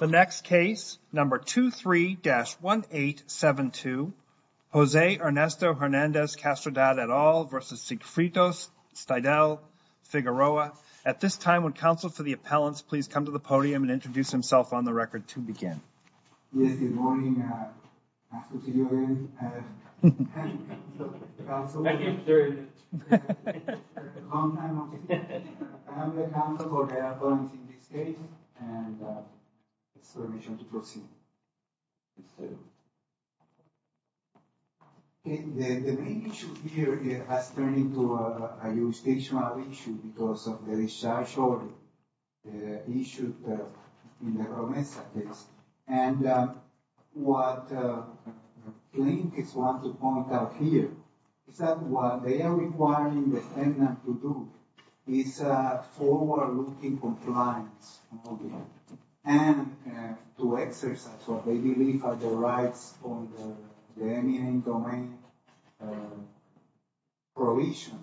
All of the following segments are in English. The next case, number 23-1872, Jose Ernesto Hernandez-Castrodad et al. v. Sigfridos-Steidel-Figueroa. At this time, would counsel for the appellants please come to the podium and introduce himself on the record to begin. Yes, good morning. Good to see you again. I'm the counsel for the appellants in this case and it's my pleasure to proceed. Mr. López. It's a forward-looking compliance and to exercise what they believe are the rights on the domain provision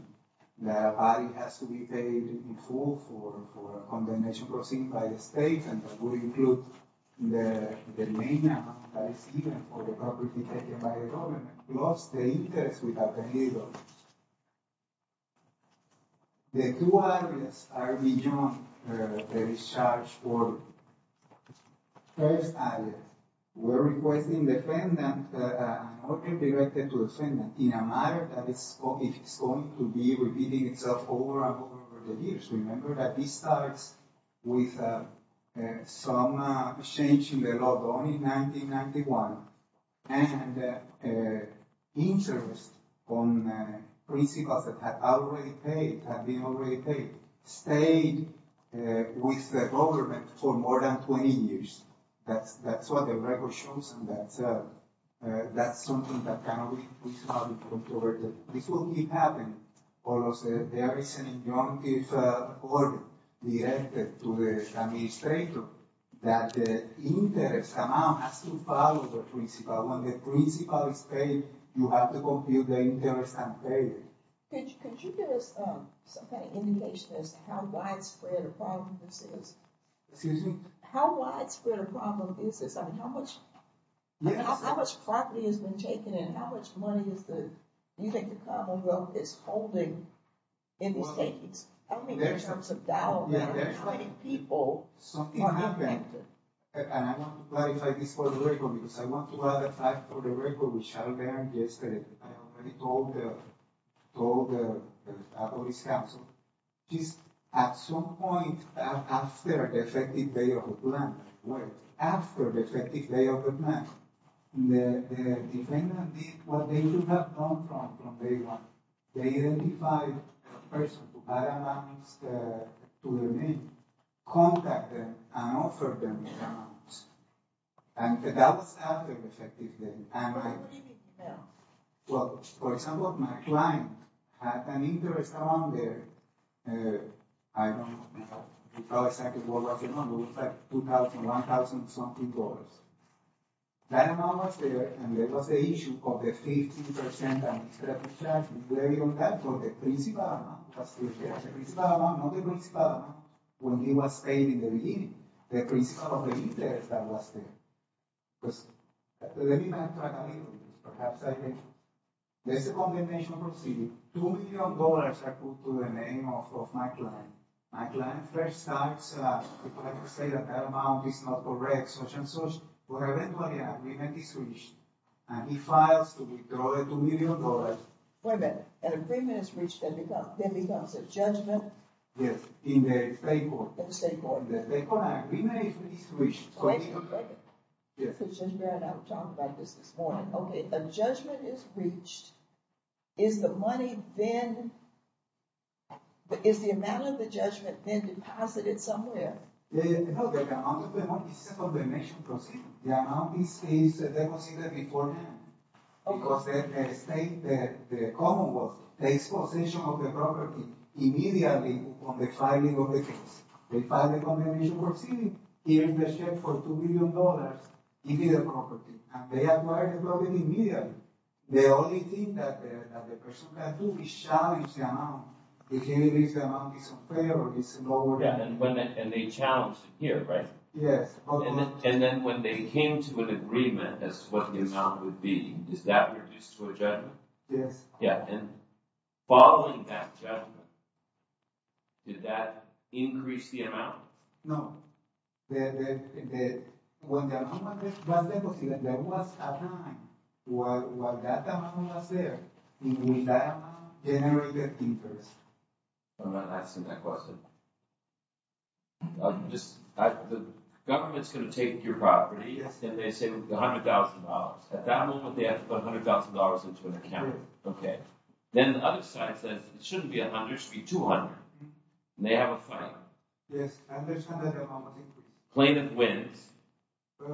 that a body has to be paid in full for a condemnation proceeding by the state and that would include the main amount that is given for the property taken by the government plus the interest without the legal. The two areas are beyond the discharge for the first area. We're requesting the defendant, an order directed to the defendant in a manner that is going to be repeating itself over and over the years. Remember that this starts with some change in the law, only 1991, and interest on principles that have already paid, have been already paid, stayed with the government for more than 20 years. That's what the record shows and that's something that cannot be computed. This will keep happening. There is an injunctive order directed to the administrator that the interest amount has to follow the principle. But when the principle is paid, you have to compute the interest and pay it. Could you give us some kind of indication as to how widespread a problem this is? Excuse me? How widespread a problem is this? I mean, how much property has been taken and how much money is the, do you think the commonwealth is holding in these takings? I don't mean in terms of dollars. Yeah. How many people are impacted? And I want to clarify this for the record, because I want to add a fact for the record, which I learned yesterday. I already told the police counsel. At some point after the effective day of the plan, the defendant did what they should have done from day one. They identified the person who had an amnesty to the name, contacted them and offered them an amnesty. And that was after the effective day. What did you tell? Well, for example, my client had an interest amount there. I don't know exactly what was the number. It was like $2,000, $1,000 something dollars. That amount was there, and that was the issue of the 50% interest that was there. The principal amount was still there. The principal amount, not the principal amount. When he was paid in the beginning, the principal of the interest that was there. Because that's what the defendant tried to do. Perhaps, I don't know. There's a condemnation proceeding. $2,000,000 are put to the name of my client. My client first starts to say that that amount is not correct, such and such. Well, eventually an agreement is reached. And he files to withdraw the $2,000,000. Wait a minute. An agreement is reached and then becomes a judgment? Yes, in the state court. In the state court. The state court agreement is reached. Judge Barrett and I were talking about this this morning. A judgment is reached. Is the money then... Is the amount of the judgment then deposited somewhere? No, the amount of the money is a condemnation proceeding. The amount is deposited beforehand. Because the state, the Commonwealth, takes possession of the property immediately upon the filing of the case. They file a condemnation proceeding. Here's the check for $2,000,000. Give me the property. They acquire the property immediately. The only thing that the person can do is challenge the amount. If the amount is unfair or is lower than... And they challenge it here, right? Yes. And then when they came to an agreement as to what the amount would be, does that reduce to a judgment? Yes. Following that judgment, did that increase the amount? When the amount was deposited, there was a time where that amount was there. Will that amount generate the interest? I'm not answering that question. The government's going to take your property, and they say $100,000. At that moment, they have to put $100,000 into an account. Then the other side says it shouldn't be $100,000, it should be $200,000. And they have a fight. Yes. The plaintiff wins.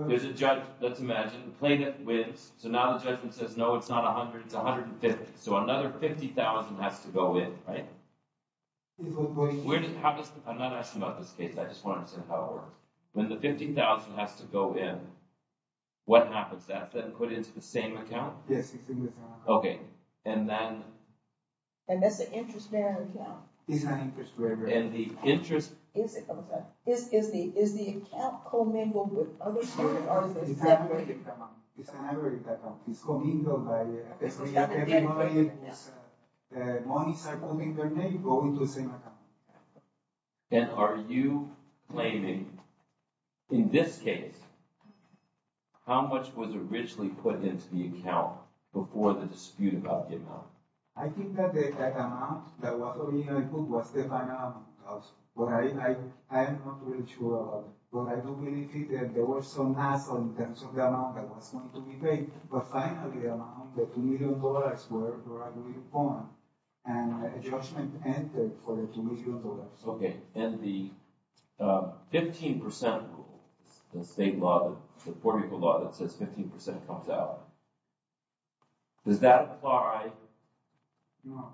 There's a judge, let's imagine, the plaintiff wins. So now the judgment says, no, it's not $100,000, it's $150,000. So another $50,000 has to go in, right? I'm not asking about this case, I just want to understand how it works. When the $50,000 has to go in, what happens to that? Is that put into the same account? Yes, it's in the same account. And that's an interest-bearing account. It's an interest-bearing account. And the interest... Is the account commingled with other sources? No, it's an aggregate account. It's commingled by... It's got to be in the same account. When the monies are commingled, they go into the same account. And are you claiming, in this case, how much was originally put into the account before the dispute about the amount? I think that the amount that was originally put was the final amount. But I'm not really sure about it. But I do believe that there was some hassle in terms of the amount that was going to be paid. But finally, around the $2 million, where I believe it's going, and a judgment entered for the $2 million. Okay, and the 15% rule, the state law, the poor people law, that says 15% comes out. Does that apply? No.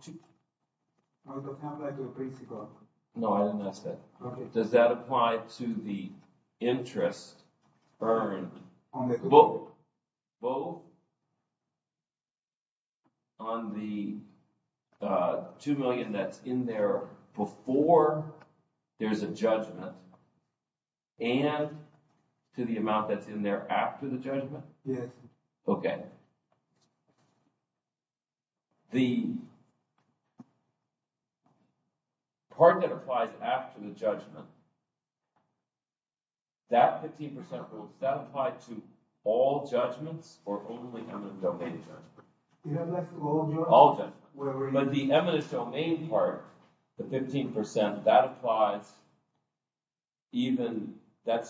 I don't have that in the basic law. No, I didn't ask that. Okay. Does that apply to the interest earned both on the $2 million that's in there before there's a judgment and to the amount that's in there after the judgment? Yes. Okay. The part that applies after the judgment, that 15% rule, does that apply to all judgments or only eminent domain judgments? All judgments. But the eminent domain part, the 15%, that applies even, that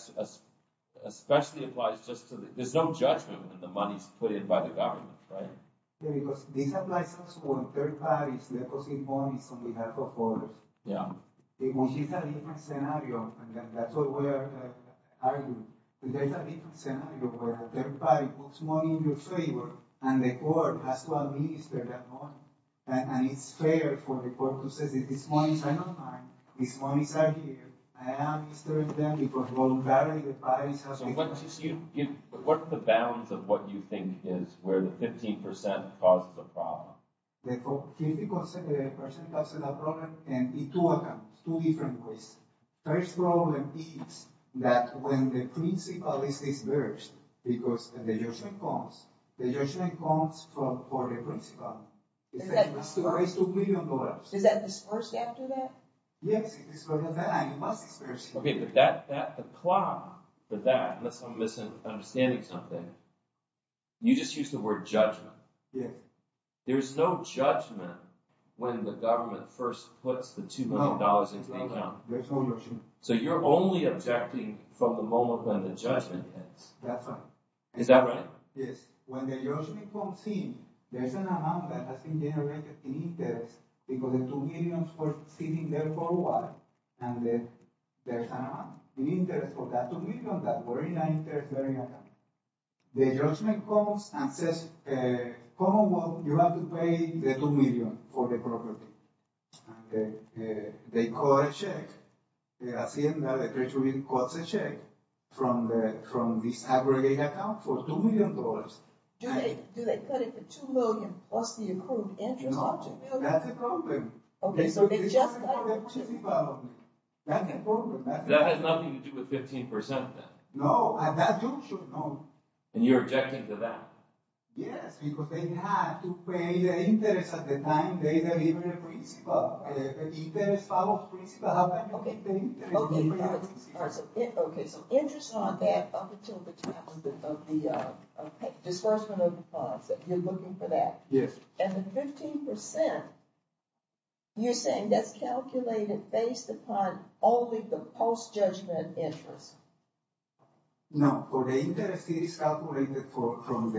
especially applies just to, there's no judgment when the money's put in by the government, right? Yeah, because this applies to third parties depositing money on behalf of others. Yeah. Which is a different scenario, and that's what we're arguing. There's a different scenario where a third party puts money in your favor and the court has to administer that money. And it's fair for the court to say, these monies are not mine. These monies are here. I administer them because voluntarily the parties have to... So what's the bounds of what you think is where the 15% causes a problem? The 15% causes a problem can be two of them, two different ways. First problem is that when the principal is disbursed because the judgment comes, the judgment comes for the principal. Is that disbursed after that? Yes, it's disbursed after that, and it must be disbursed. Okay, but that, the plot for that, unless I'm misunderstanding something, you just used the word judgment. Yeah. There's no judgment when the government first puts the $2 million into the account. There's no judgment. So you're only objecting from the moment when the judgment hits. That's right. Is that right? Yes. When the judgment comes in, there's an amount that has been generated in interest because the $2 million was sitting there for a while, and then there's an amount in interest for that $2 million that was in that interest-bearing account. The judgment comes and says, Commonwealth, you have to pay the $2 million for the property. They cut a check. The Hacienda de Trechulín cuts a check from this aggregate account for $2 million. Do they cut it for $2 million plus the accrued interest of $2 million? No, that's a problem. Okay, so they just cut it. That's a problem. That has nothing to do with 15% then. No, at that juncture, no. And you're objecting to that. Yes, because they had to pay the interest at the time they delivered the principle. If the interest follows principle, how can you keep the interest? Okay, so interest on that up until the time of the disbursement of the funds. You're looking for that. Yes. And the 15%, you're saying that's calculated based upon only the post-judgment interest. No, for the interest, it is calculated from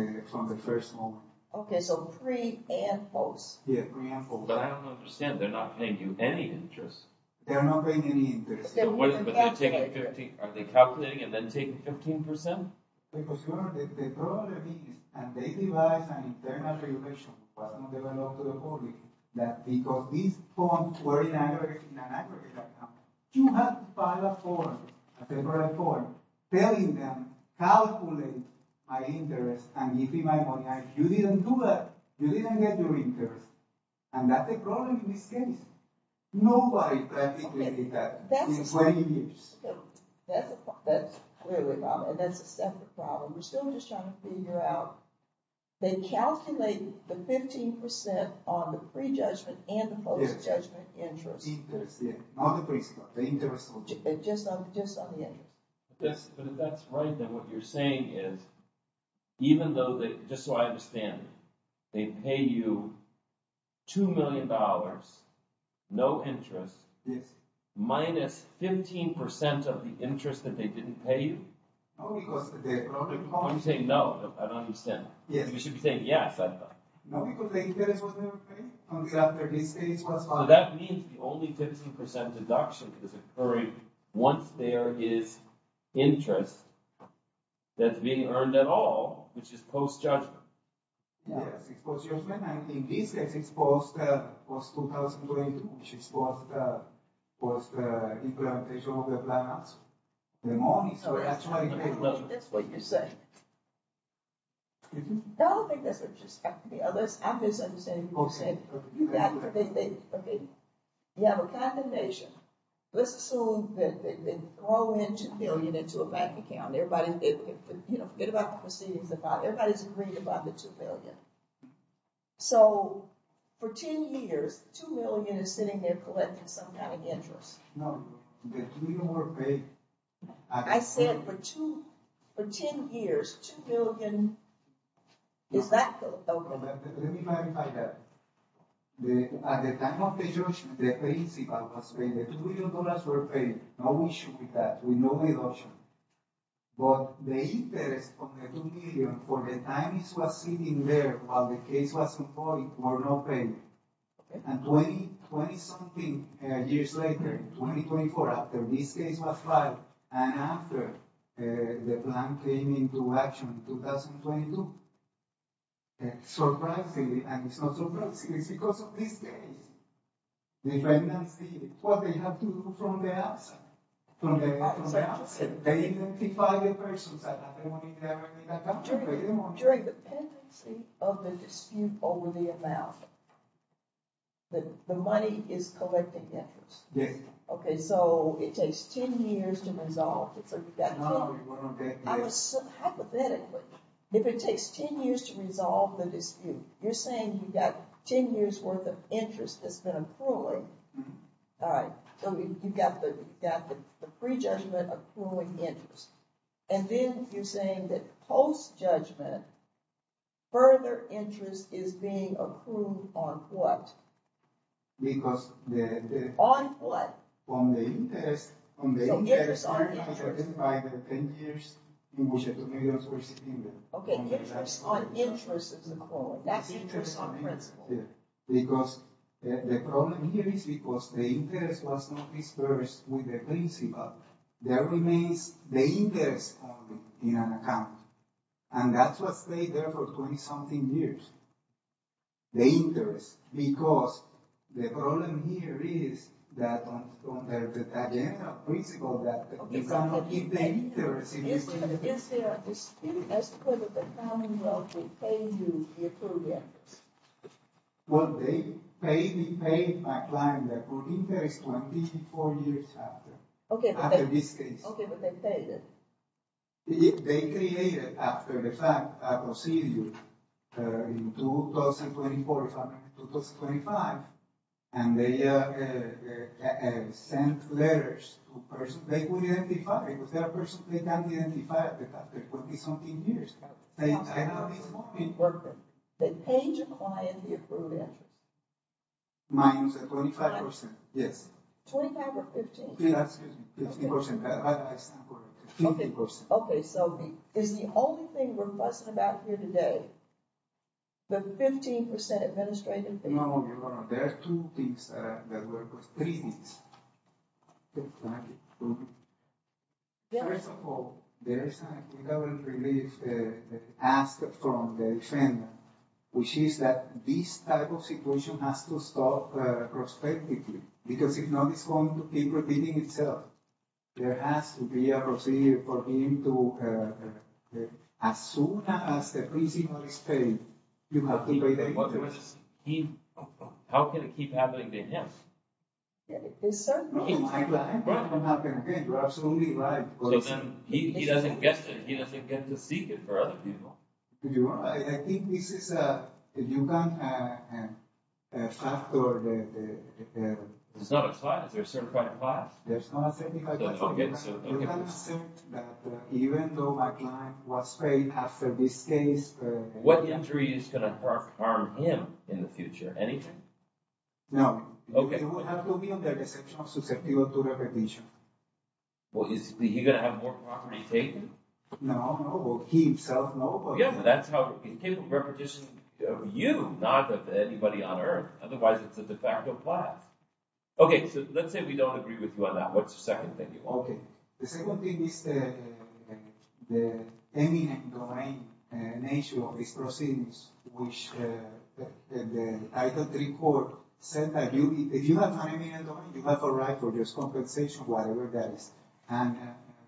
the first moment. Okay, so pre and post. Yeah, pre and post. But I don't understand. They're not paying you any interest. They're not paying any interest. Are they calculating and then taking 15%? Because the problem is, and they devised an internal regulation that was not developed to the public, that because these funds were in an aggregate account, you had to file a form, a separate form, telling them, calculate my interest and give me my money. You didn't do that. You didn't get your interest. And that's the problem in this case. Nobody practically did that in 20 years. That's really the problem, and that's a separate problem. We're still just trying to figure out, they calculated the 15% on the pre-judgment and the post-judgment interest. Interest, yeah. Not the pre-judgment, the interest only. Just on the interest. But if that's right, then what you're saying is, even though they, just so I understand, they pay you $2 million, no interest, minus 15% of the interest that they didn't pay you? No, because the problem... When you say no, I don't understand. You should be saying yes, I thought. No, because the interest was never paid until after this case was filed. So that means the only 15% deduction is occurring once there is interest that's being earned at all, which is post-judgment. Yes, it's post-judgment, and in this case it's post-2002, which is post-implementation of the plans, the money, so that's why... That's what you're saying. No, I don't think that's what you're saying. I'm just understanding what you're saying. You have a condemnation. Let's assume that they throw in $2 million into a bank account. Everybody, you know, forget about the proceedings, everybody's agreed about the $2 million. So, for 10 years, $2 million is sitting there collecting some kind of interest. No, the $2 million were paid... I said, for 10 years, $2 million... Is that... Let me clarify that. At the time of the judgment, the principal was paid, the $2 million were paid, no issue with that, with no deduction. But the interest of the $2 million for the time it was sitting there while the case was in court were not paid. And 20-something years later, 2024, after this case was filed, and after the plan came into action in 2022, surprisingly, and it's not surprising, it's because of this case, defendants did what they had to do from the outset. From the outset. They identified the persons During the pendency of the dispute over the amount, the money is collecting interest. Yes. Okay, so it takes 10 years to resolve. No, it wasn't 10 years. Hypothetically, if it takes 10 years to resolve the dispute, you're saying you've got 10 years worth of interest that's been accruing. All right, so you've got the pre-judgment accruing interest. And then you're saying that post-judgment, further interest is being accrued on what? Because the... On what? On the interest. So interest on interest. By the 10 years in which the $2 million were sitting there. Okay, interest on interest is accruing. That's interest on principle. Because the problem here is because the interest was not dispersed with the principle. There remains the interest in an account. And that's what stayed there for 20-something years. The interest. Because the problem here is that on the agenda principle that... Is there a dispute as to whether the Commonwealth will pay you the accrued interest? Well, they paid me, paid my client, the accrued interest 24 years after. Okay, but they... After this case. Okay, but they paid it. They created, after the fact, a procedure in 2024, if I'm not mistaken, 2025. And they sent letters to persons, they couldn't identify it, because there are persons that can't identify it after 20-something years. I know this one. Perfect. They paid your client the accrued interest. Minus 25%, yes. 25 or 15? 15, excuse me. 15%. 15%. Okay, so is the only thing we're fussing about here today the 15% administrative fee? No, there are two things that we're fussing about. Three things. First of all, there is a government relief that is asked from the defendant, which is that this type of situation has to stop prospectively. Because if not, it's going to keep repeating itself. There has to be a procedure for him to... As soon as the prisoner is paid, you have to pay the interest. How can it keep happening to him? No, I'm lying. That's not going to happen again. You're absolutely right. So then he doesn't get to seek it for other people. I think this is a... You can factor the... It's not a class. There's a certified class. There's not a certified class. You can assert that, even though my client was paid after this case... What injury is going to harm him in the future? Anything? No. Okay. He will have to be under the exception of susceptible to repetition. Well, is he going to have more property taken? No, no. He himself, no. Yeah, but that's how... He's capable of repetition of you, not of anybody on Earth. Otherwise, it's a de facto class. Okay, so let's say we don't agree with you on that. What's the second thing you want? Okay. The second thing is the eminent domain nature of these proceedings, which the title III court said that if you have an eminent domain, you have a right for just compensation, whatever that is. And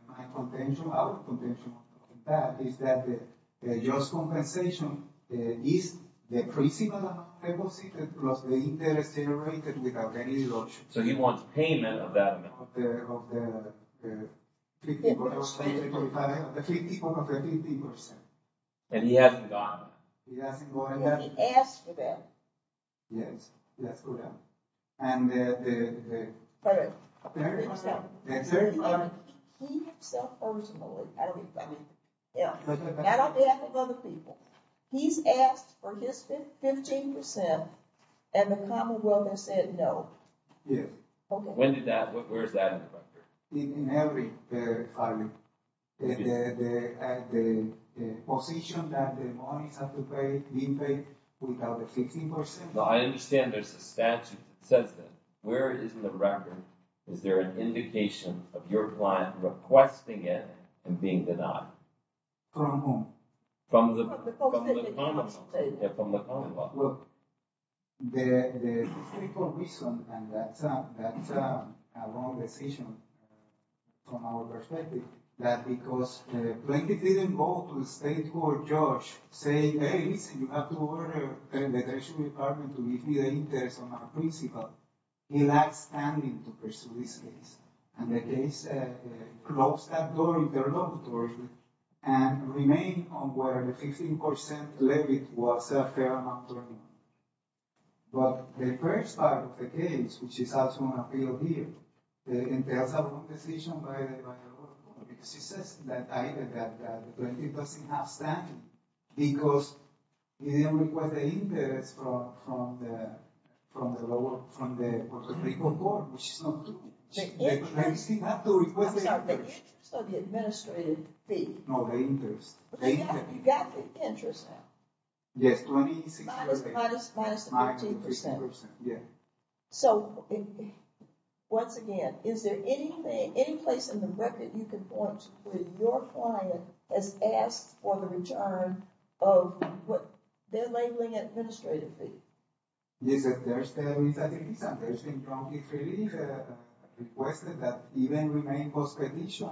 my contention, our contention on that, is that the just compensation is the principal deposited plus the interest generated without any lodging. So he wants payment of that amount. Of the... 50%. The 50% of the 50%. And he hasn't gone. He hasn't gone yet. But he asked for that. Yes. He asked for that. And the... But... The third part... The third part... He himself personally... I don't mean by him. I don't mean other people. He's asked for his 15% and the commonwealth has said no. Yes. When did that... Where is that in the record? In every filing. The position that the monies have to be paid without the 15%. I understand there's a statute that says that. Where is the record? Is there an indication of your client requesting it and being denied it? From whom? From the commonwealth. From the commonwealth. Well... The... The... And that's a... That's a... A wrong decision from our perspective. That because the plaintiff didn't go to the state court, judge, saying, hey, listen, you have to order the detention department to give me the interest on my principal. He lacks standing to pursue this case. And the case closed that door in the regulatory and remained on where the 15% levied was a fair amount of money. But the first part of the case, which is also an appeal here, entails a wrong decision by the commonwealth because he says that the plaintiff doesn't have standing because he didn't request the interest from the local court, which is not true. They still have to request the interest. I'm sorry, the interest on the administrative fee. No, the interest. You got the interest now. Yes, 26%. Minus the 15%. Minus the 15%, yeah. So, once again, is there any place in the record you can point that your client has asked for the return of what they're labeling administrative fee? Yes, there's the reason. There's been prompt relief requested that even remained post-petition.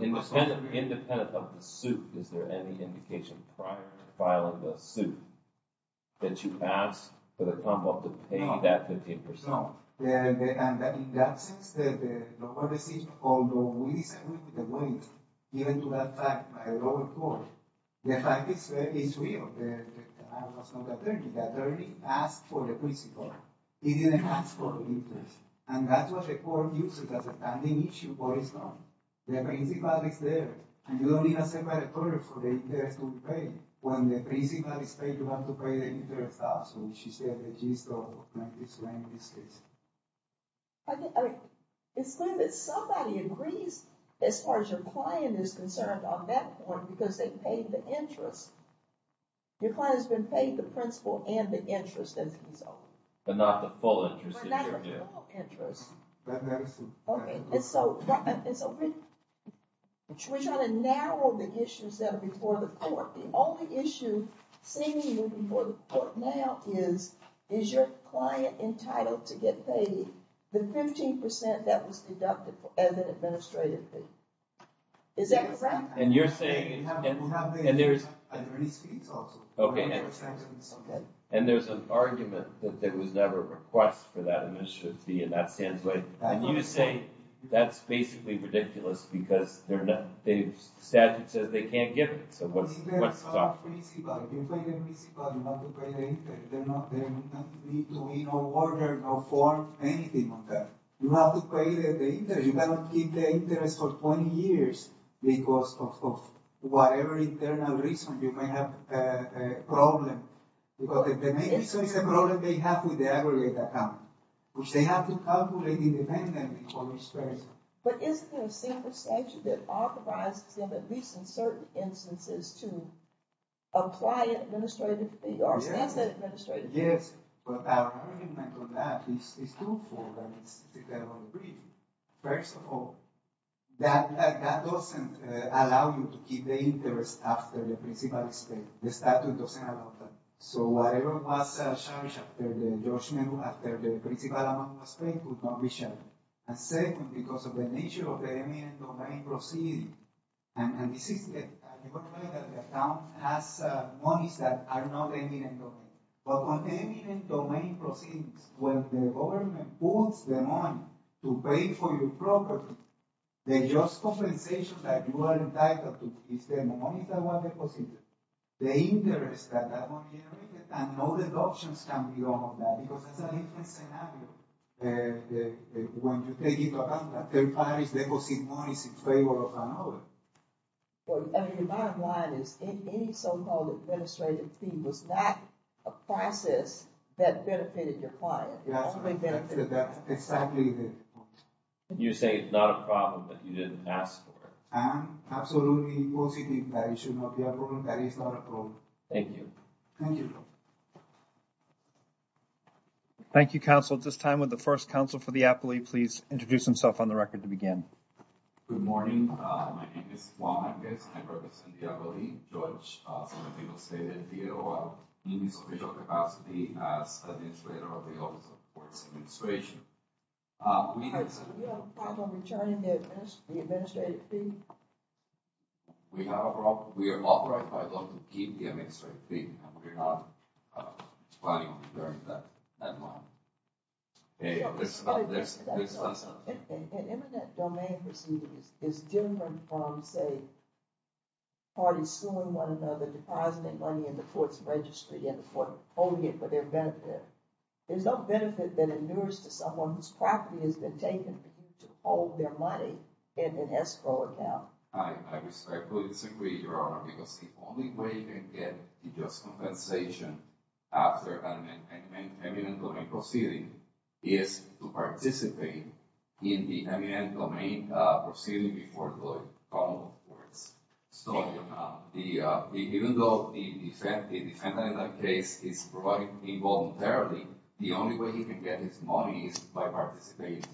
Independent of the suit, is there any indication prior to filing the suit that you asked for the commonwealth to pay that 15%? And in that sense, the local decision, although we disagree with the plaintiff, given to that fact by the local court, the fact is real. I must not deter you. The attorney asked for the principal. He didn't ask for the interest. And that's what the court uses as a standing issue, but it's not. The principal is there, and you don't need a separate order for the interest to be paid. When the principal is paid, you have to pay the interest also, which is the register of plaintiff's name, in this case. It's good that somebody agrees as far as your client is concerned on that point because they paid the interest. Your client has been paid the principal and the interest as a result. But not the full interest. But not the full interest. We're trying to narrow the issues that are before the court. The only issue seen before the court now is is your client entitled to get paid the 15% that was deducted as an administrative fee. Is that correct? And you're saying... And there's an argument that there was never a request for that administrative fee, and that stands right. And you say that's basically ridiculous because the statute says they can't give it. So what's the problem? You pay the principal, you don't have to pay the interest. There need to be no order, no form, anything on that. You have to pay the interest. You cannot keep the interest for 20 years because of whatever internal reason you may have a problem. Because the main issue is a problem they have with the aggregate account, which they have to calculate independently for each person. But isn't there a single statute that authorizes them at least in certain instances to apply administrative fee or stand for administrative fee? Yes. But our argument on that is truthful. First of all, that doesn't allow you to keep the interest after the principal is paid. The statute doesn't allow that. So whatever was charged after the judgment, after the principal amount was paid, could not be charged. And second, because of the nature of the domain proceeding, and this is the point that the account has monies that are not eminent domain. But when eminent domain proceeds, when the government puts the money to pay for your property, the just compensation that you are entitled to is the money that was deposited, the interest that that money generated, and no deductions can be done on that because that's a different scenario. When you take into account that third parties deposit monies in favor of another. Well, I mean, the bottom line is any so-called administrative fee was not a process that benefited your client. That's right. You say it's not a problem, but you didn't ask for it. I am absolutely positive that it should not be a problem. That is not a problem. Thank you. Thank you. Thank you, counsel. At this time, would the first counsel for the appellee please introduce himself on the record to begin? Good morning. My name is Juan Hernandez. I represent the appellee, George. Some people say that the appeal needs official capacity as administrator of the Office of the Court's Administration. We have a problem with returning the administrative fee. We have a problem. We are authorized by law to keep the administrative fee. We are not planning on returning that amount. There's one thing. An eminent domain proceeding is different from, say, parties suing one another, depositing money in the court's registry and the court holding it for their benefit. There's no benefit that endures to someone whose property has been taken to hold their money in an escrow account. I respectfully disagree, Your Honor, because the only way you can get the just compensation after an eminent domain proceeding is to participate in the eminent domain proceeding before going homewards. Even though the defendant in that case is providing involuntarily, the only way he can get his money is by participating,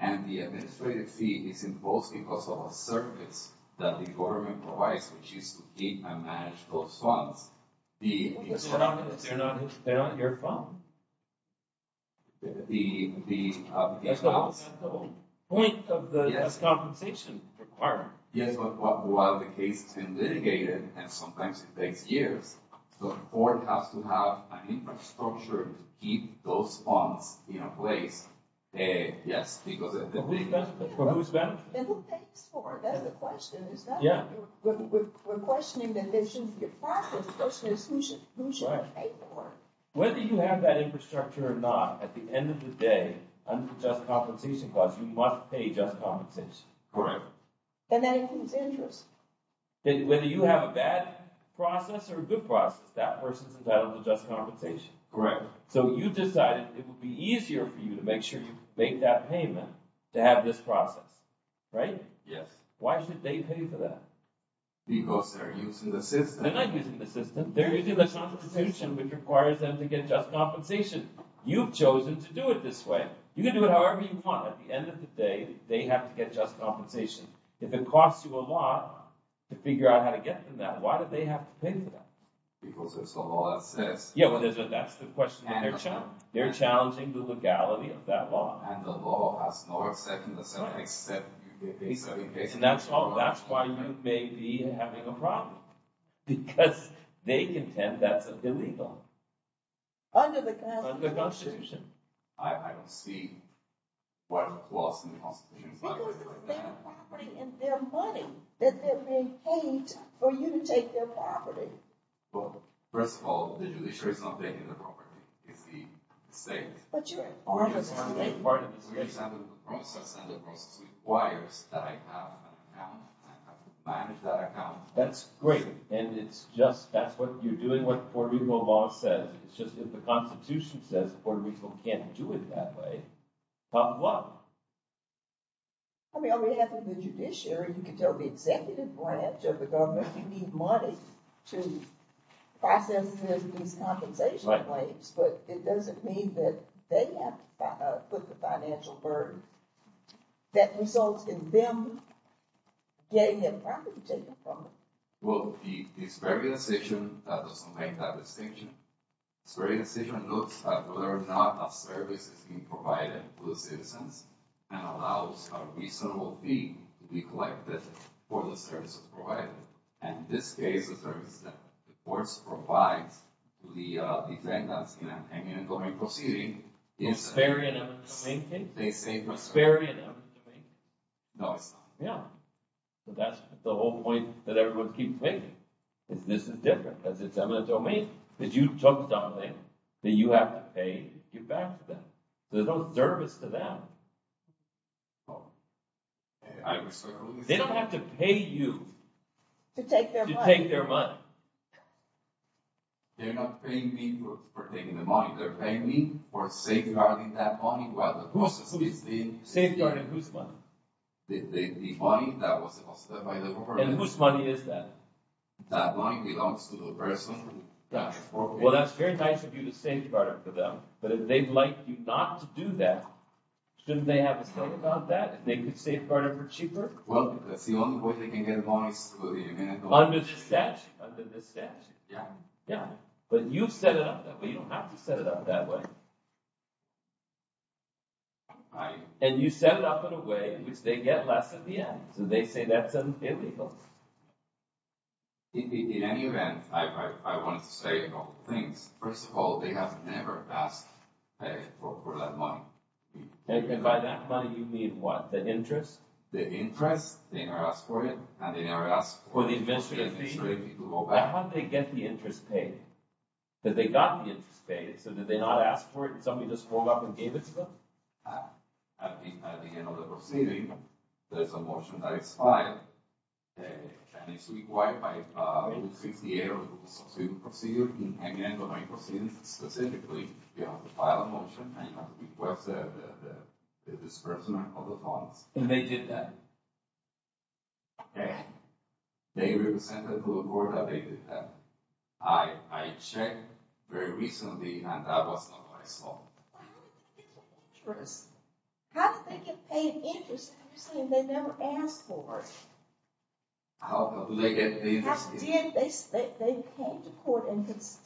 and the administrative fee is imposed because of a service that the government provides, which is to keep and manage those funds. They're not your fund. That's the whole point of the just compensation requirement. Yes, but while the case has been litigated, and sometimes it takes years, the court has to have an infrastructure to keep those funds in place. Yes, because... For whose benefit? For whose benefit? And who pays for it? That's the question. Is that what you're... We're questioning that there should be a process as opposed to who should pay for it. Whether you have that infrastructure or not, at the end of the day, under the just compensation clause, you must pay just compensation. Correct. And that includes interest. Whether you have a bad process or a good process, that person's entitled to just compensation. Correct. So you decided it would be easier for you to make sure you make that payment to have this process, right? Yes. Why should they pay for that? Because they're using the system. They're not using the system. They're using the Constitution, which requires them to get just compensation. You've chosen to do it this way. You can do it however you want. At the end of the day, they have to get just compensation. If it costs you a lot to figure out how to get from that, why do they have to pay for that? Because there's a law that says... Yeah, well, that's the question. They're challenging the legality of that law. And the law has no exception except in case... And that's why you may be having a problem. Because they contend that's illegal. Under the Constitution. Under the Constitution. I don't see what's lost in the Constitution. Because it's their property and their money that they're being paid for you to take their property. Well, first of all, the judiciary's not taking the property. It's the state. But you're a part of the state. I'm a part of the state. We have a process. And the process requires that I have an account. I have to manage that account. That's great. And it's just... That's what you're doing, what Puerto Rico law says. It's just that the Constitution says Puerto Rico can't do it that way. But what? I mean, on behalf of the judiciary, you can tell the executive branch of the government you need money to process these compensation claims. But it doesn't mean that they have to put the financial burden that results in them getting their property taken from them. Well, the Sperry decision doesn't make that distinction. The Sperry decision looks at whether or not a service is being provided to the citizens and allows a reasonable fee to be collected for the services provided. And in this case, the courts provide the defendants in an eminent domain proceeding... The Sperry and eminent domain case? The Sperry and eminent domain case. No, it's not. Yeah. But that's the whole point that everyone keeps making. This is different. Because it's eminent domain. Because you took something that you have to pay to give back to them. There's no service to them. They don't have to pay you... To take their money. They're not paying me for taking the money. They're paying me for safeguarding that money while the process is being... Safeguarding whose money? The money that was deposited by the corporation. And whose money is that? That money belongs to the person who... Well, that's very nice of you to safeguard it for them. But if they'd like you not to do that, shouldn't they have a say about that and they could safeguard it for cheaper? Well, that's the only way they can get money Under the statute. But you've set it up that way. You don't have to set it up that way. And you set it up in a way in which they get less at the end. So they say that's illegal. In any event, I wanted to say a couple of things. First of all, they have never asked for that money. And by that money you mean what? The interest? The interest. They never asked for it. And they never asked for it. For the administrative fee? For the administrative fee to go back. How did they get the interest paid? Did they got the interest paid? So did they not ask for it and somebody just pulled up and gave it to them? At the end of the proceeding, there's a motion that is filed. And it's required by Rule 68 of the proceeding procedure. In any end of any proceedings specifically, you have to file a motion and you have to request the disbursement of the funds. And they did that? They represented to the court that they did that. I checked very recently and that was not what I saw. How did they get paid interest if they never asked for it? How did they get the interest? They came to court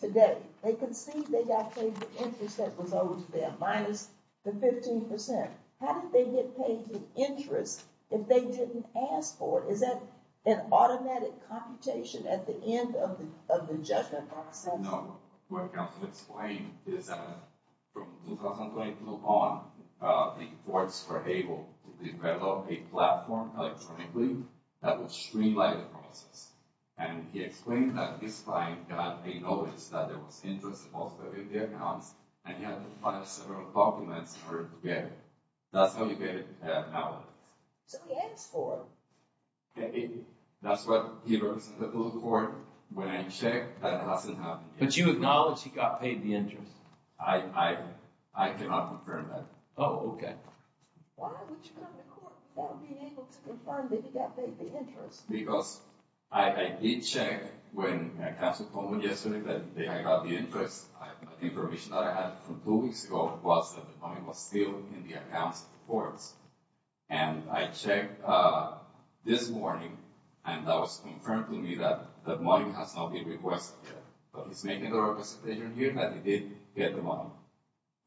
today. They conceded they got paid the interest that was owed to them minus the 15%. How did they get paid the interest if they didn't ask for it? Is that an automatic computation at the end of the judgment process? No. What counsel explained is that from 2020 on, the courts were able to develop a platform electronically that would streamline the process. And he explained that his client got a notice that there was interest in most of the accounts and he had to file several documents in order to get it. That's how he got it now. So he asked for it. That's what he wrote to the court. When I checked, that hasn't happened yet. But you acknowledge he got paid the interest? I cannot confirm that. Oh, okay. Why would you go to court without being able to confirm that he got paid the interest? Because I did check when my counsel told me yesterday that I got the interest. The information that I had from two weeks ago was that the money was still in the accounts of the courts. And I checked this morning and that was confirmed to me that the money has not been requested yet. But he's making a representation here that he did get the money.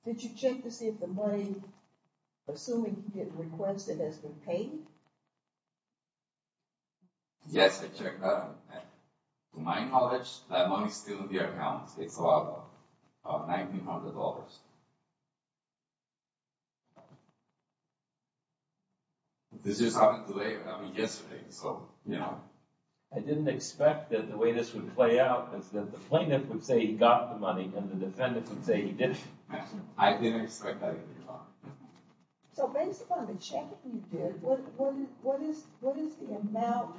Did you check to see if the money, assuming he didn't request it, has been paid? Yes, I checked that. To my knowledge, that money is still in the accounts. It's about $1,900. This just happened yesterday. I didn't expect that the way this would play out is that the plaintiff would say he got the money and the defendant would say he didn't. I didn't expect that either. So based upon the checking you did, what is the amount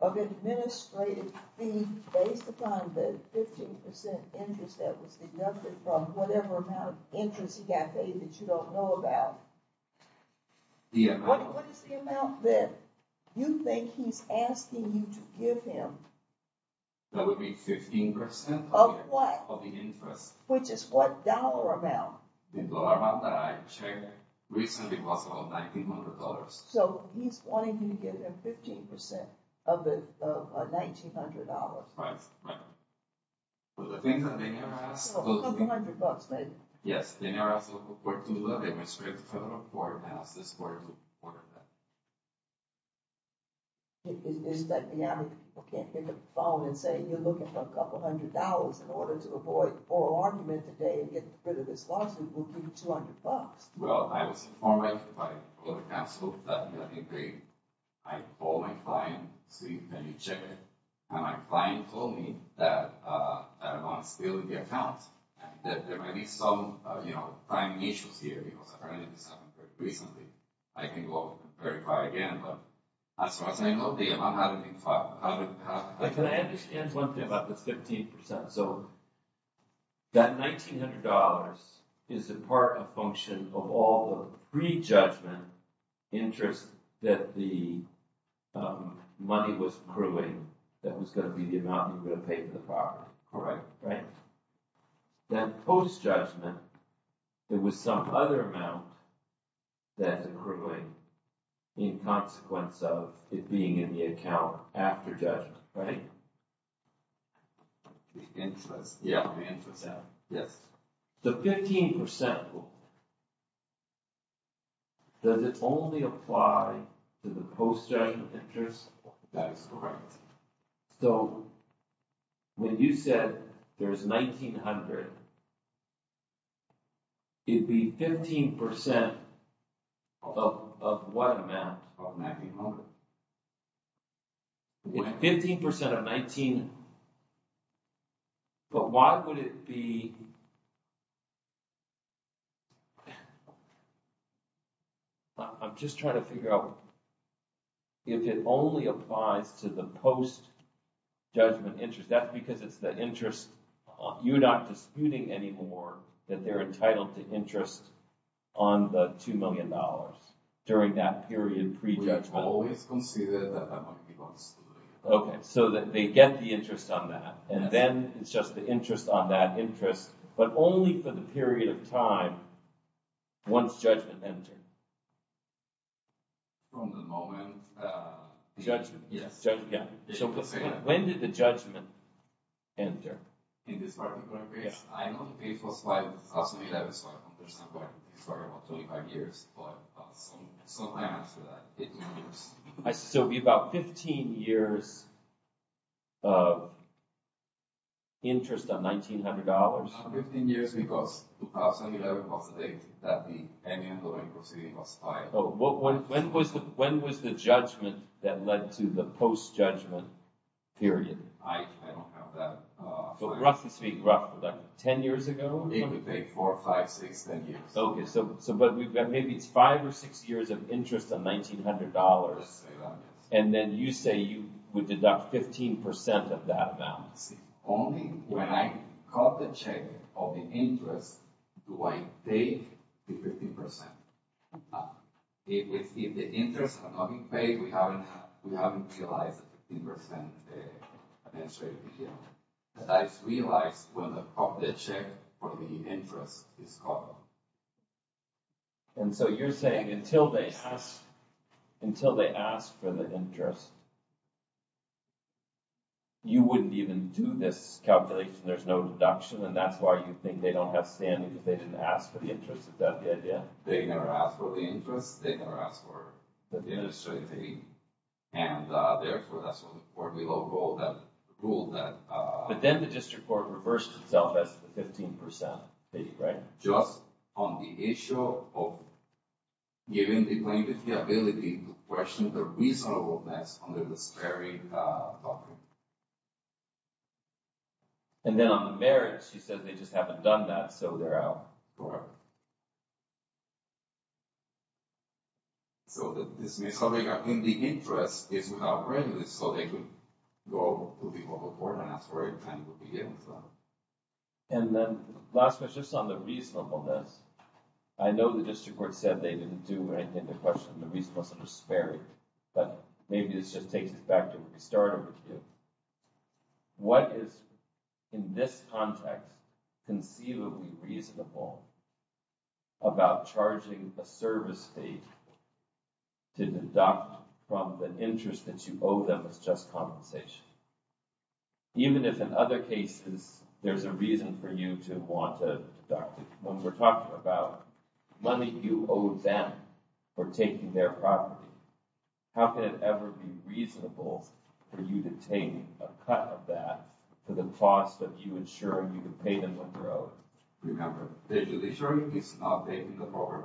of administrative fee based upon the 15% interest that was deducted from whatever amount of interest he got paid that you don't know about? What is the amount that you think he's asking you to give him? That would be 15% of the interest. Which is what dollar amount? The dollar amount that I checked recently was about $1,900. So he's wanting you to give him 15% of $1,900. Right. A couple hundred bucks maybe. Yes, they never asked the court to do that. They restricted the federal court to ask the court to order that. Is that the amity people can't pick up the phone and say, you're looking for a couple hundred dollars in order to avoid oral argument today and get rid of this lawsuit, we'll give you 200 bucks. Well, I was informed by the court of counsel that I told my client, Steve, can you check it? And my client told me that it was still in the account. That there might be some timing issues here because apparently this happened very recently. I can go verify again, but as far as I know, the amount hadn't been filed. Can I add just one thing about the 15%? So that $1,900 is a part of function of all the pre-judgment interest that the money was accruing that was going to be the amount he would have paid in the file. Correct. Then post-judgment, it was some other amount that's accruing in consequence of it being in the account after judgment, right? The interest. Yeah, the interest. Yes. The 15%, does it only apply to the post-judgment interest? That is correct. So when you said there's $1,900, it'd be 15% of what amount? Of $1,900. It's 15% of $1,900, but why would it be? I'm just trying to figure out if it only applies to the post-judgment interest. That's because it's the interest, you're not disputing anymore that they're entitled to interest on the $2 million during that period of pre-judgment. We always consider that that might be lost. Okay, so they get the interest on that, and then it's just the interest on that interest, but only for the period of time once judgment entered. From the moment... Judgment. So when did the judgment enter? In this particular case? I know the case was filed in 2011, so I understand why it was filed about 25 years, but sometime after that, 15 years. So it would be about 15 years of interest on $1,900. 15 years because 2011 was the date that the M&A proceeding was filed. When was the judgment that led to the post-judgment period? I don't have that. But roughly speaking, roughly, 10 years ago? It would be four, five, six, 10 years. Okay, so maybe it's five or six years of interest on $1,900, and then you say you would deduct 15% of that amount. Only when I got the check of the interest do I pay the 15%. If the interest had not been paid, we haven't realized the interest and the administrative detail. But I realize when I got the check for the interest, it's gone. And so you're saying until they ask for the interest, you wouldn't even do this calculation, there's no deduction, and that's why you think they don't have standing, if they didn't ask for the interest, is that the idea? They didn't ask for the interest, they didn't ask for the administrative detail, and therefore, that's what we will rule that... But then the district court reversed itself and asked for the 15%, right? Just on the issue of giving the plaintiff the ability to question the reasonableness under the sparing doctrine. And then on the merit, she says they just haven't done that, so they're out. Correct. So the dismissal they got in the interest is without prejudice, so they could go to the local court and ask for it And then, last question, just on the reasonableness, I know the district court said they didn't do anything to question the reasonableness under sparing, but maybe this just takes us back to where we started with you. What is, in this context, conceivably reasonable about charging a service fee to deduct from the interest that you owe them as just compensation? Even if, in other cases, there's a reason for you to want to deduct it. When we're talking about money you owe them for taking their property, how could it ever be reasonable for you to take a cut of that for the cost of you insuring you can pay them when you're out? Remember, the insuring is updating the program.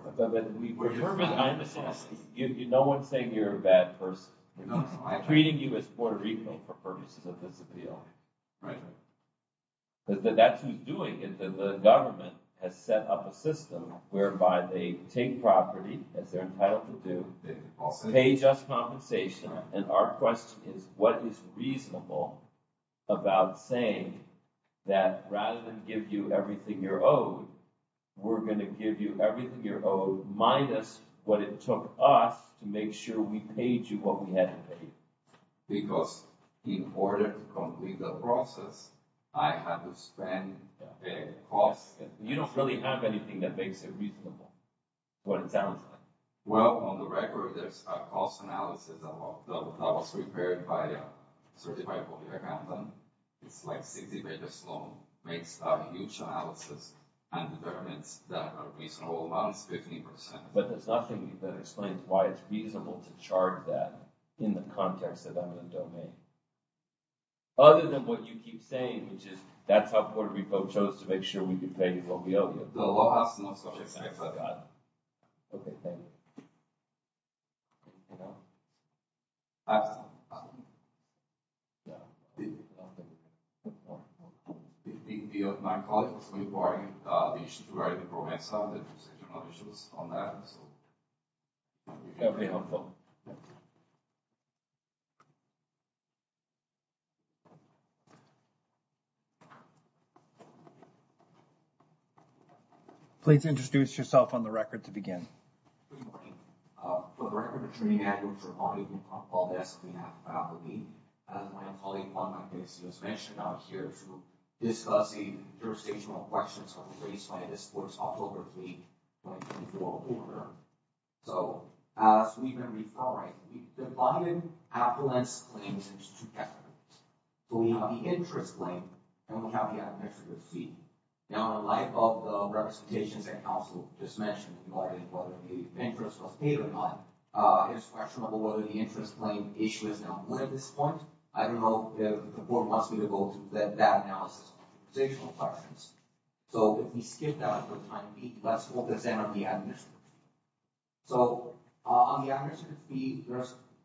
No one's saying you're a bad person. They're treating you as Puerto Rico for purposes of this appeal. That's who's doing it. The government has set up a system whereby they take property, as they're entitled to do, pay just compensation, and our question is, what is reasonable about saying that, rather than give you everything you're owed, we're going to give you everything you're owed, minus what it took us to make sure that we paid you what we hadn't paid. Because in order to complete the process, I had to spend a cost... You don't really have anything that makes it reasonable, what it sounds like. Well, on the record, there's a cost analysis that was prepared by a certified public accountant. It's like 60 pages long. It makes a huge analysis and determines that a reasonable amount is 50%. But there's nothing that explains why it's reasonable to charge that in the context that I'm in the domain. Other than what you keep saying, which is, that's how Puerto Rico chose to make sure we could pay you what we owe you. The law has to know, so... Okay, thank you. I have something. No, I don't think you do. One more. My colleague was really worried about the issues regarding the program itself and there were other technical issues on that, so... Okay, helpful. Please introduce yourself on the record to begin. Good morning. For the record, I'm Jermaine Andrews, reporting on Paul Bess's behalf. As my colleague, Paul MacNasty, has mentioned out here, we're discussing jurisdictional questions that were raised by this board's October 3, 2024 order. So, as we've been referring, we've divided appellants' claims into two categories. So we have the interest claim and we have the affidavit fee. Now, in light of the representations that Council just mentioned regarding whether the interest was paid or not, it is questionable whether the interest claim issue is now one at this point. I don't know if the board wants me to go through that analysis of jurisdictional questions. So, if we skip that for time being, let's focus in on the administrative fee. So, on the administrative fee,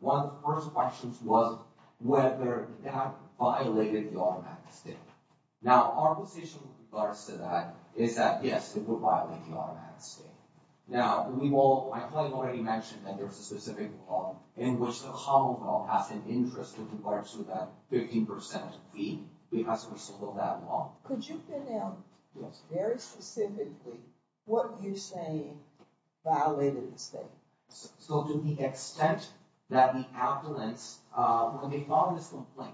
one of the first questions was whether that violated the automatic state. Now, our position with regards to that is that, yes, it would violate the automatic state. Now, my colleague already mentioned that there's a specific law in which the Commonwealth has an interest with regards to that 15% fee, but it hasn't been settled that law. Could you pin down very specifically what you're saying violated the state? So, to the extent that the appellants when they filed this complaint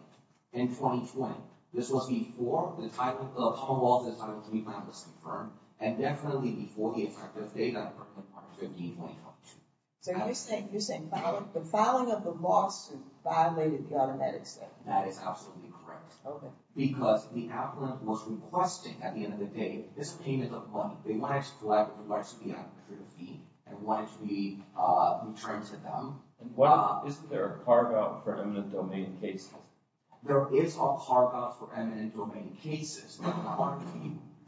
in 2020, this was before the Commonwealth Title III plan was confirmed, and definitely before the effective date on Department Part 15.2. So, you're saying the filing of the loss violated the automatic state. That is absolutely correct. Because the appellant was requesting, at the end of the day, this payment of money. They wanted to collect the rest of the administrative fee, and wanted to be returned to them. Isn't there a carve-out for eminent domain cases? There is a carve-out for eminent domain cases.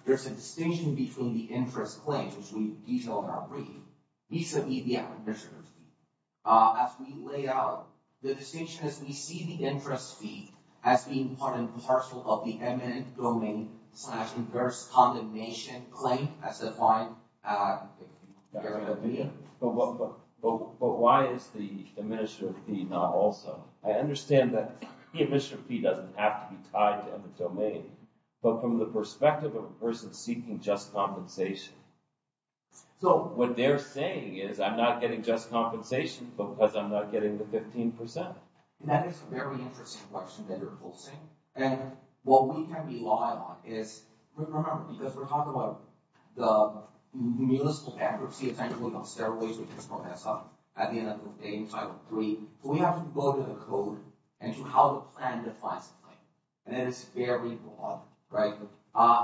There's a distinction between the interest claims, which we detail in our brief, vis-a-vis the administrative fee. As we lay out, the distinction is we see the interest fee as being part and parcel of the eminent domain slash inverse condemnation claim, as defined in the agreement. But why is the administrative fee not also? I understand that the administrative fee doesn't have to be tied to eminent domain, but from the perspective of a person seeking just compensation. So, what they're saying is, I'm not getting just compensation because I'm not getting the 15%. And that is a very interesting question that you're posing. And what we can rely on is, remember, because we're talking about the municipal bankruptcy, essentially, on stairways, which is what we saw at the end of the day in Title III. We have to go to the code, and to how the plan defines the claim. And that is very broad, right?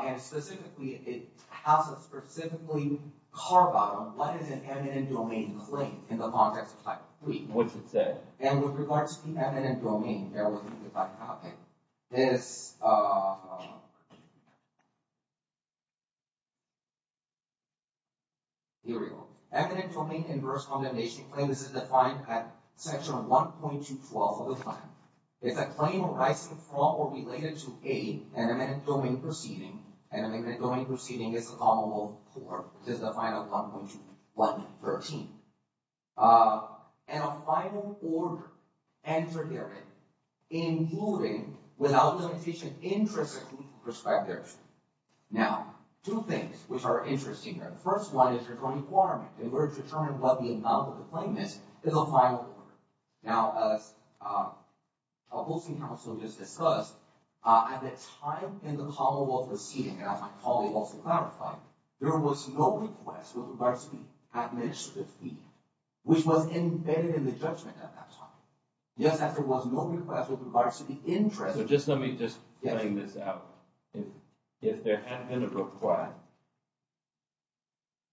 And specifically, it has a specifically carve-out what is an eminent domain claim in the context of Title III. And with regards to the eminent domain, bear with me if I copy. This... Here we go. Eminent domain inverse condemnation claim. This is defined at section 1.212 of the plan. It's a claim arising from or related to an eminent domain proceeding. An eminent domain proceeding is a commonwealth court. This is defined at 1.213. And a final order entered therein including, without limitation of interest, perspectives. Now, two things which are interesting here. The first one is the requirement in order to determine what the amount of the claim is is a final order. Now, as a hosting council just discussed, at the time in the commonwealth proceeding, and as my colleague also clarified, there was no request with regards to the administrative fee which was embedded in the judgment at that time. Yes, there was no request with regards to the interest. So, just let me, just playing this out. If there had been a request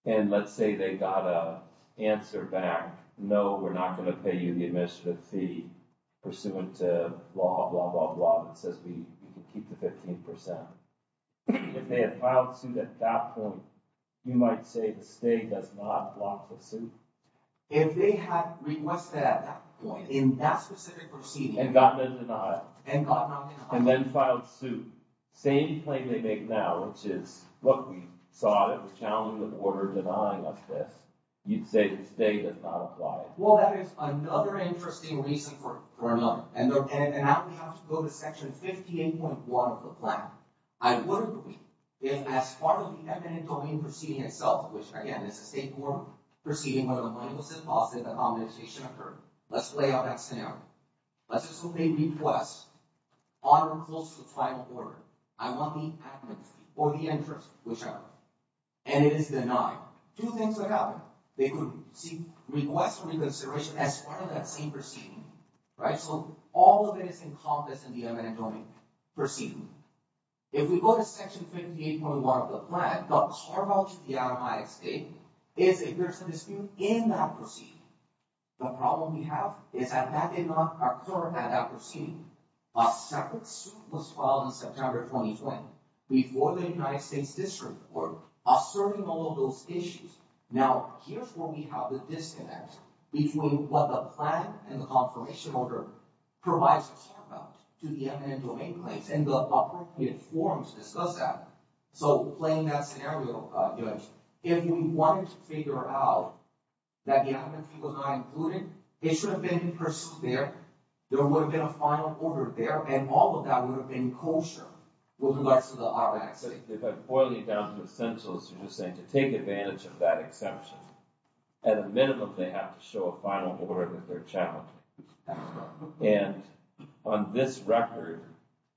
and let's say they got an answer back, no, we're not going to pay you the administrative fee pursuant to law, blah, blah, blah, that says we can keep the 15%. If they had filed suit at that point, you might say the state does not block the suit. If they had requested at that point, in that specific proceeding, and gotten a denial, and then filed suit, same claim they make now, which is what we saw that was challenged with order denying of this, you'd say the state did not apply it. Well, that is another interesting reason for another. And now we have to go to section 58.1 of the plan. I wouldn't believe if, as part of the eminent domain proceeding itself, which, again, is a state court proceeding where the money was deposited, the accommodation occurred. Let's play out that scenario. Let's assume they request honor close to the final order. I want the administrative fee or the interest, whichever. And it is denied. Two things would happen. They could seek request for reconsideration as part of that same proceeding. Right? So all of it is encompassed in the eminent domain proceeding. If we go to section 58.1 of the plan, the carve-out of the automatic state is if there's a dispute in that proceeding. The problem we have is that that did not occur at that proceeding. A separate suit was filed in September 2020 before the United States District Court asserting all of those issues. Now, here's where we have the disconnect between what the plan and the confirmation order provides to the eminent domain place and the appropriate forms to discuss that. So playing that scenario, Judge, if we wanted to figure out that the eminent fee was not included, it should have been pursued there. There would have been a final order there, and all of that would have been kosher with regards to the automatic state. If I boil you down to essentials, you're just saying to take advantage of that exception. At a minimum, they have to show a final order that they're challenging. And on this record,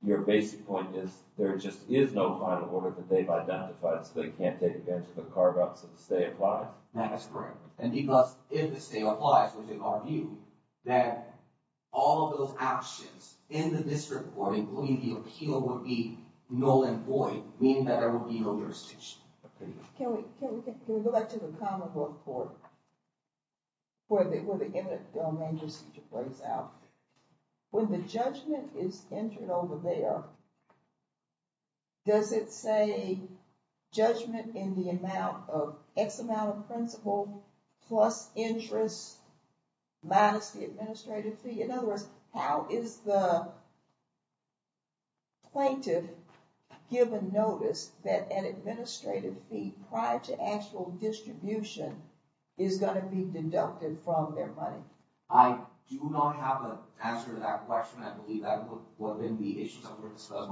your basic point is there just is no final order that they've identified so they can't take advantage of the carve-out since they apply? That's correct. And because if the state applies, which is our view, that all of those actions in the District Court, including the appeal, would be null and void, meaning that there would be no jurisdiction. Can we go back to the Commonwealth Court where the eminent general manager's feature plays out? When the judgment is entered over there, does it say judgment in the amount of X amount of principal plus interest minus the administrative fee? In other words, how is the plaintiff given notice that an administrative fee prior to actual distribution is going to be deducted from their money? I do not have an answer to that question. I believe that would be issues that were discussed.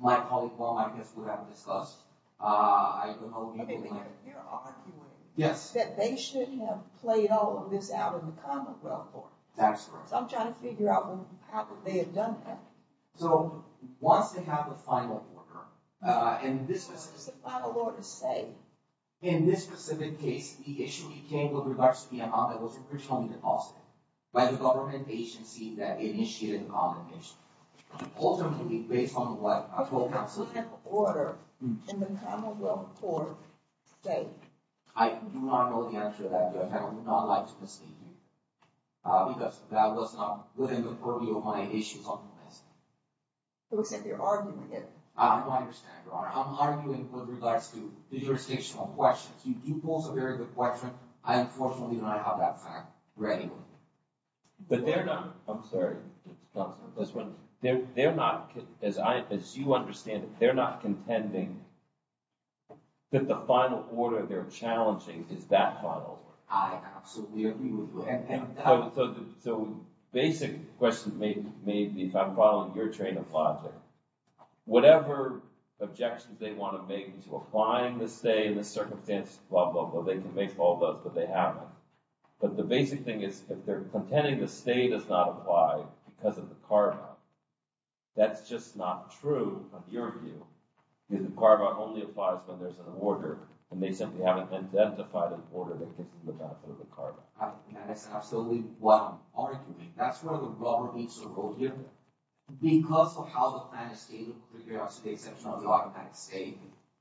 My colleague, well, I guess, would have discussed I don't know. You're arguing that they shouldn't have played all of this out in the Commonwealth Court. So I'm trying to figure out how they had done that. So once they have the final order, in this specific case, in this specific case, the issue came with regards to the amount that was originally deposited by the government agency that initiated the compensation. Ultimately, based on what a court counsel did, I do not know the answer to that. I would not like to mislead you. Because that was not within the priority of my issues on the list. It looks like you're arguing it. I don't understand, Your Honor. I'm arguing with regards to the jurisdictional questions. You pose a very good question. I unfortunately do not have that fact ready. I'm sorry. They're not, as you understand it, they're not contending that the final order they're challenging is that final order. I absolutely agree with you. So, the basic question may be, if I'm following your train of logic, whatever objections they want to make to applying the stay in this circumstance, blah, blah, blah, they can make all those, but they haven't. But the basic thing is, if they're contending the stay does not apply because of the carve-out, that's just not true, in your view. The carve-out only applies when there's an order, and they simply haven't identified an order that gets them to look out for the carve-out. That is absolutely what I'm arguing. That's where the rubber meets the road here. Because of how the plan is stated, with regards to the exception of the automatic stay,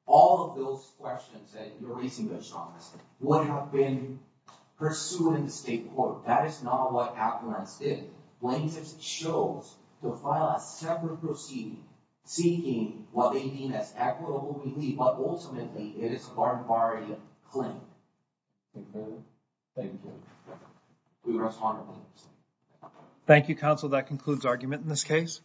all of those questions that you're raising, Judge Thomas, would have been pursued in the state court. That is not what Appellants did. Plaintiffs chose to file a separate proceeding seeking what they mean as equitable relief, but ultimately it is a barrier claim. Thank you. Do the rest honorably. Thank you, Counsel. That concludes argument in this case.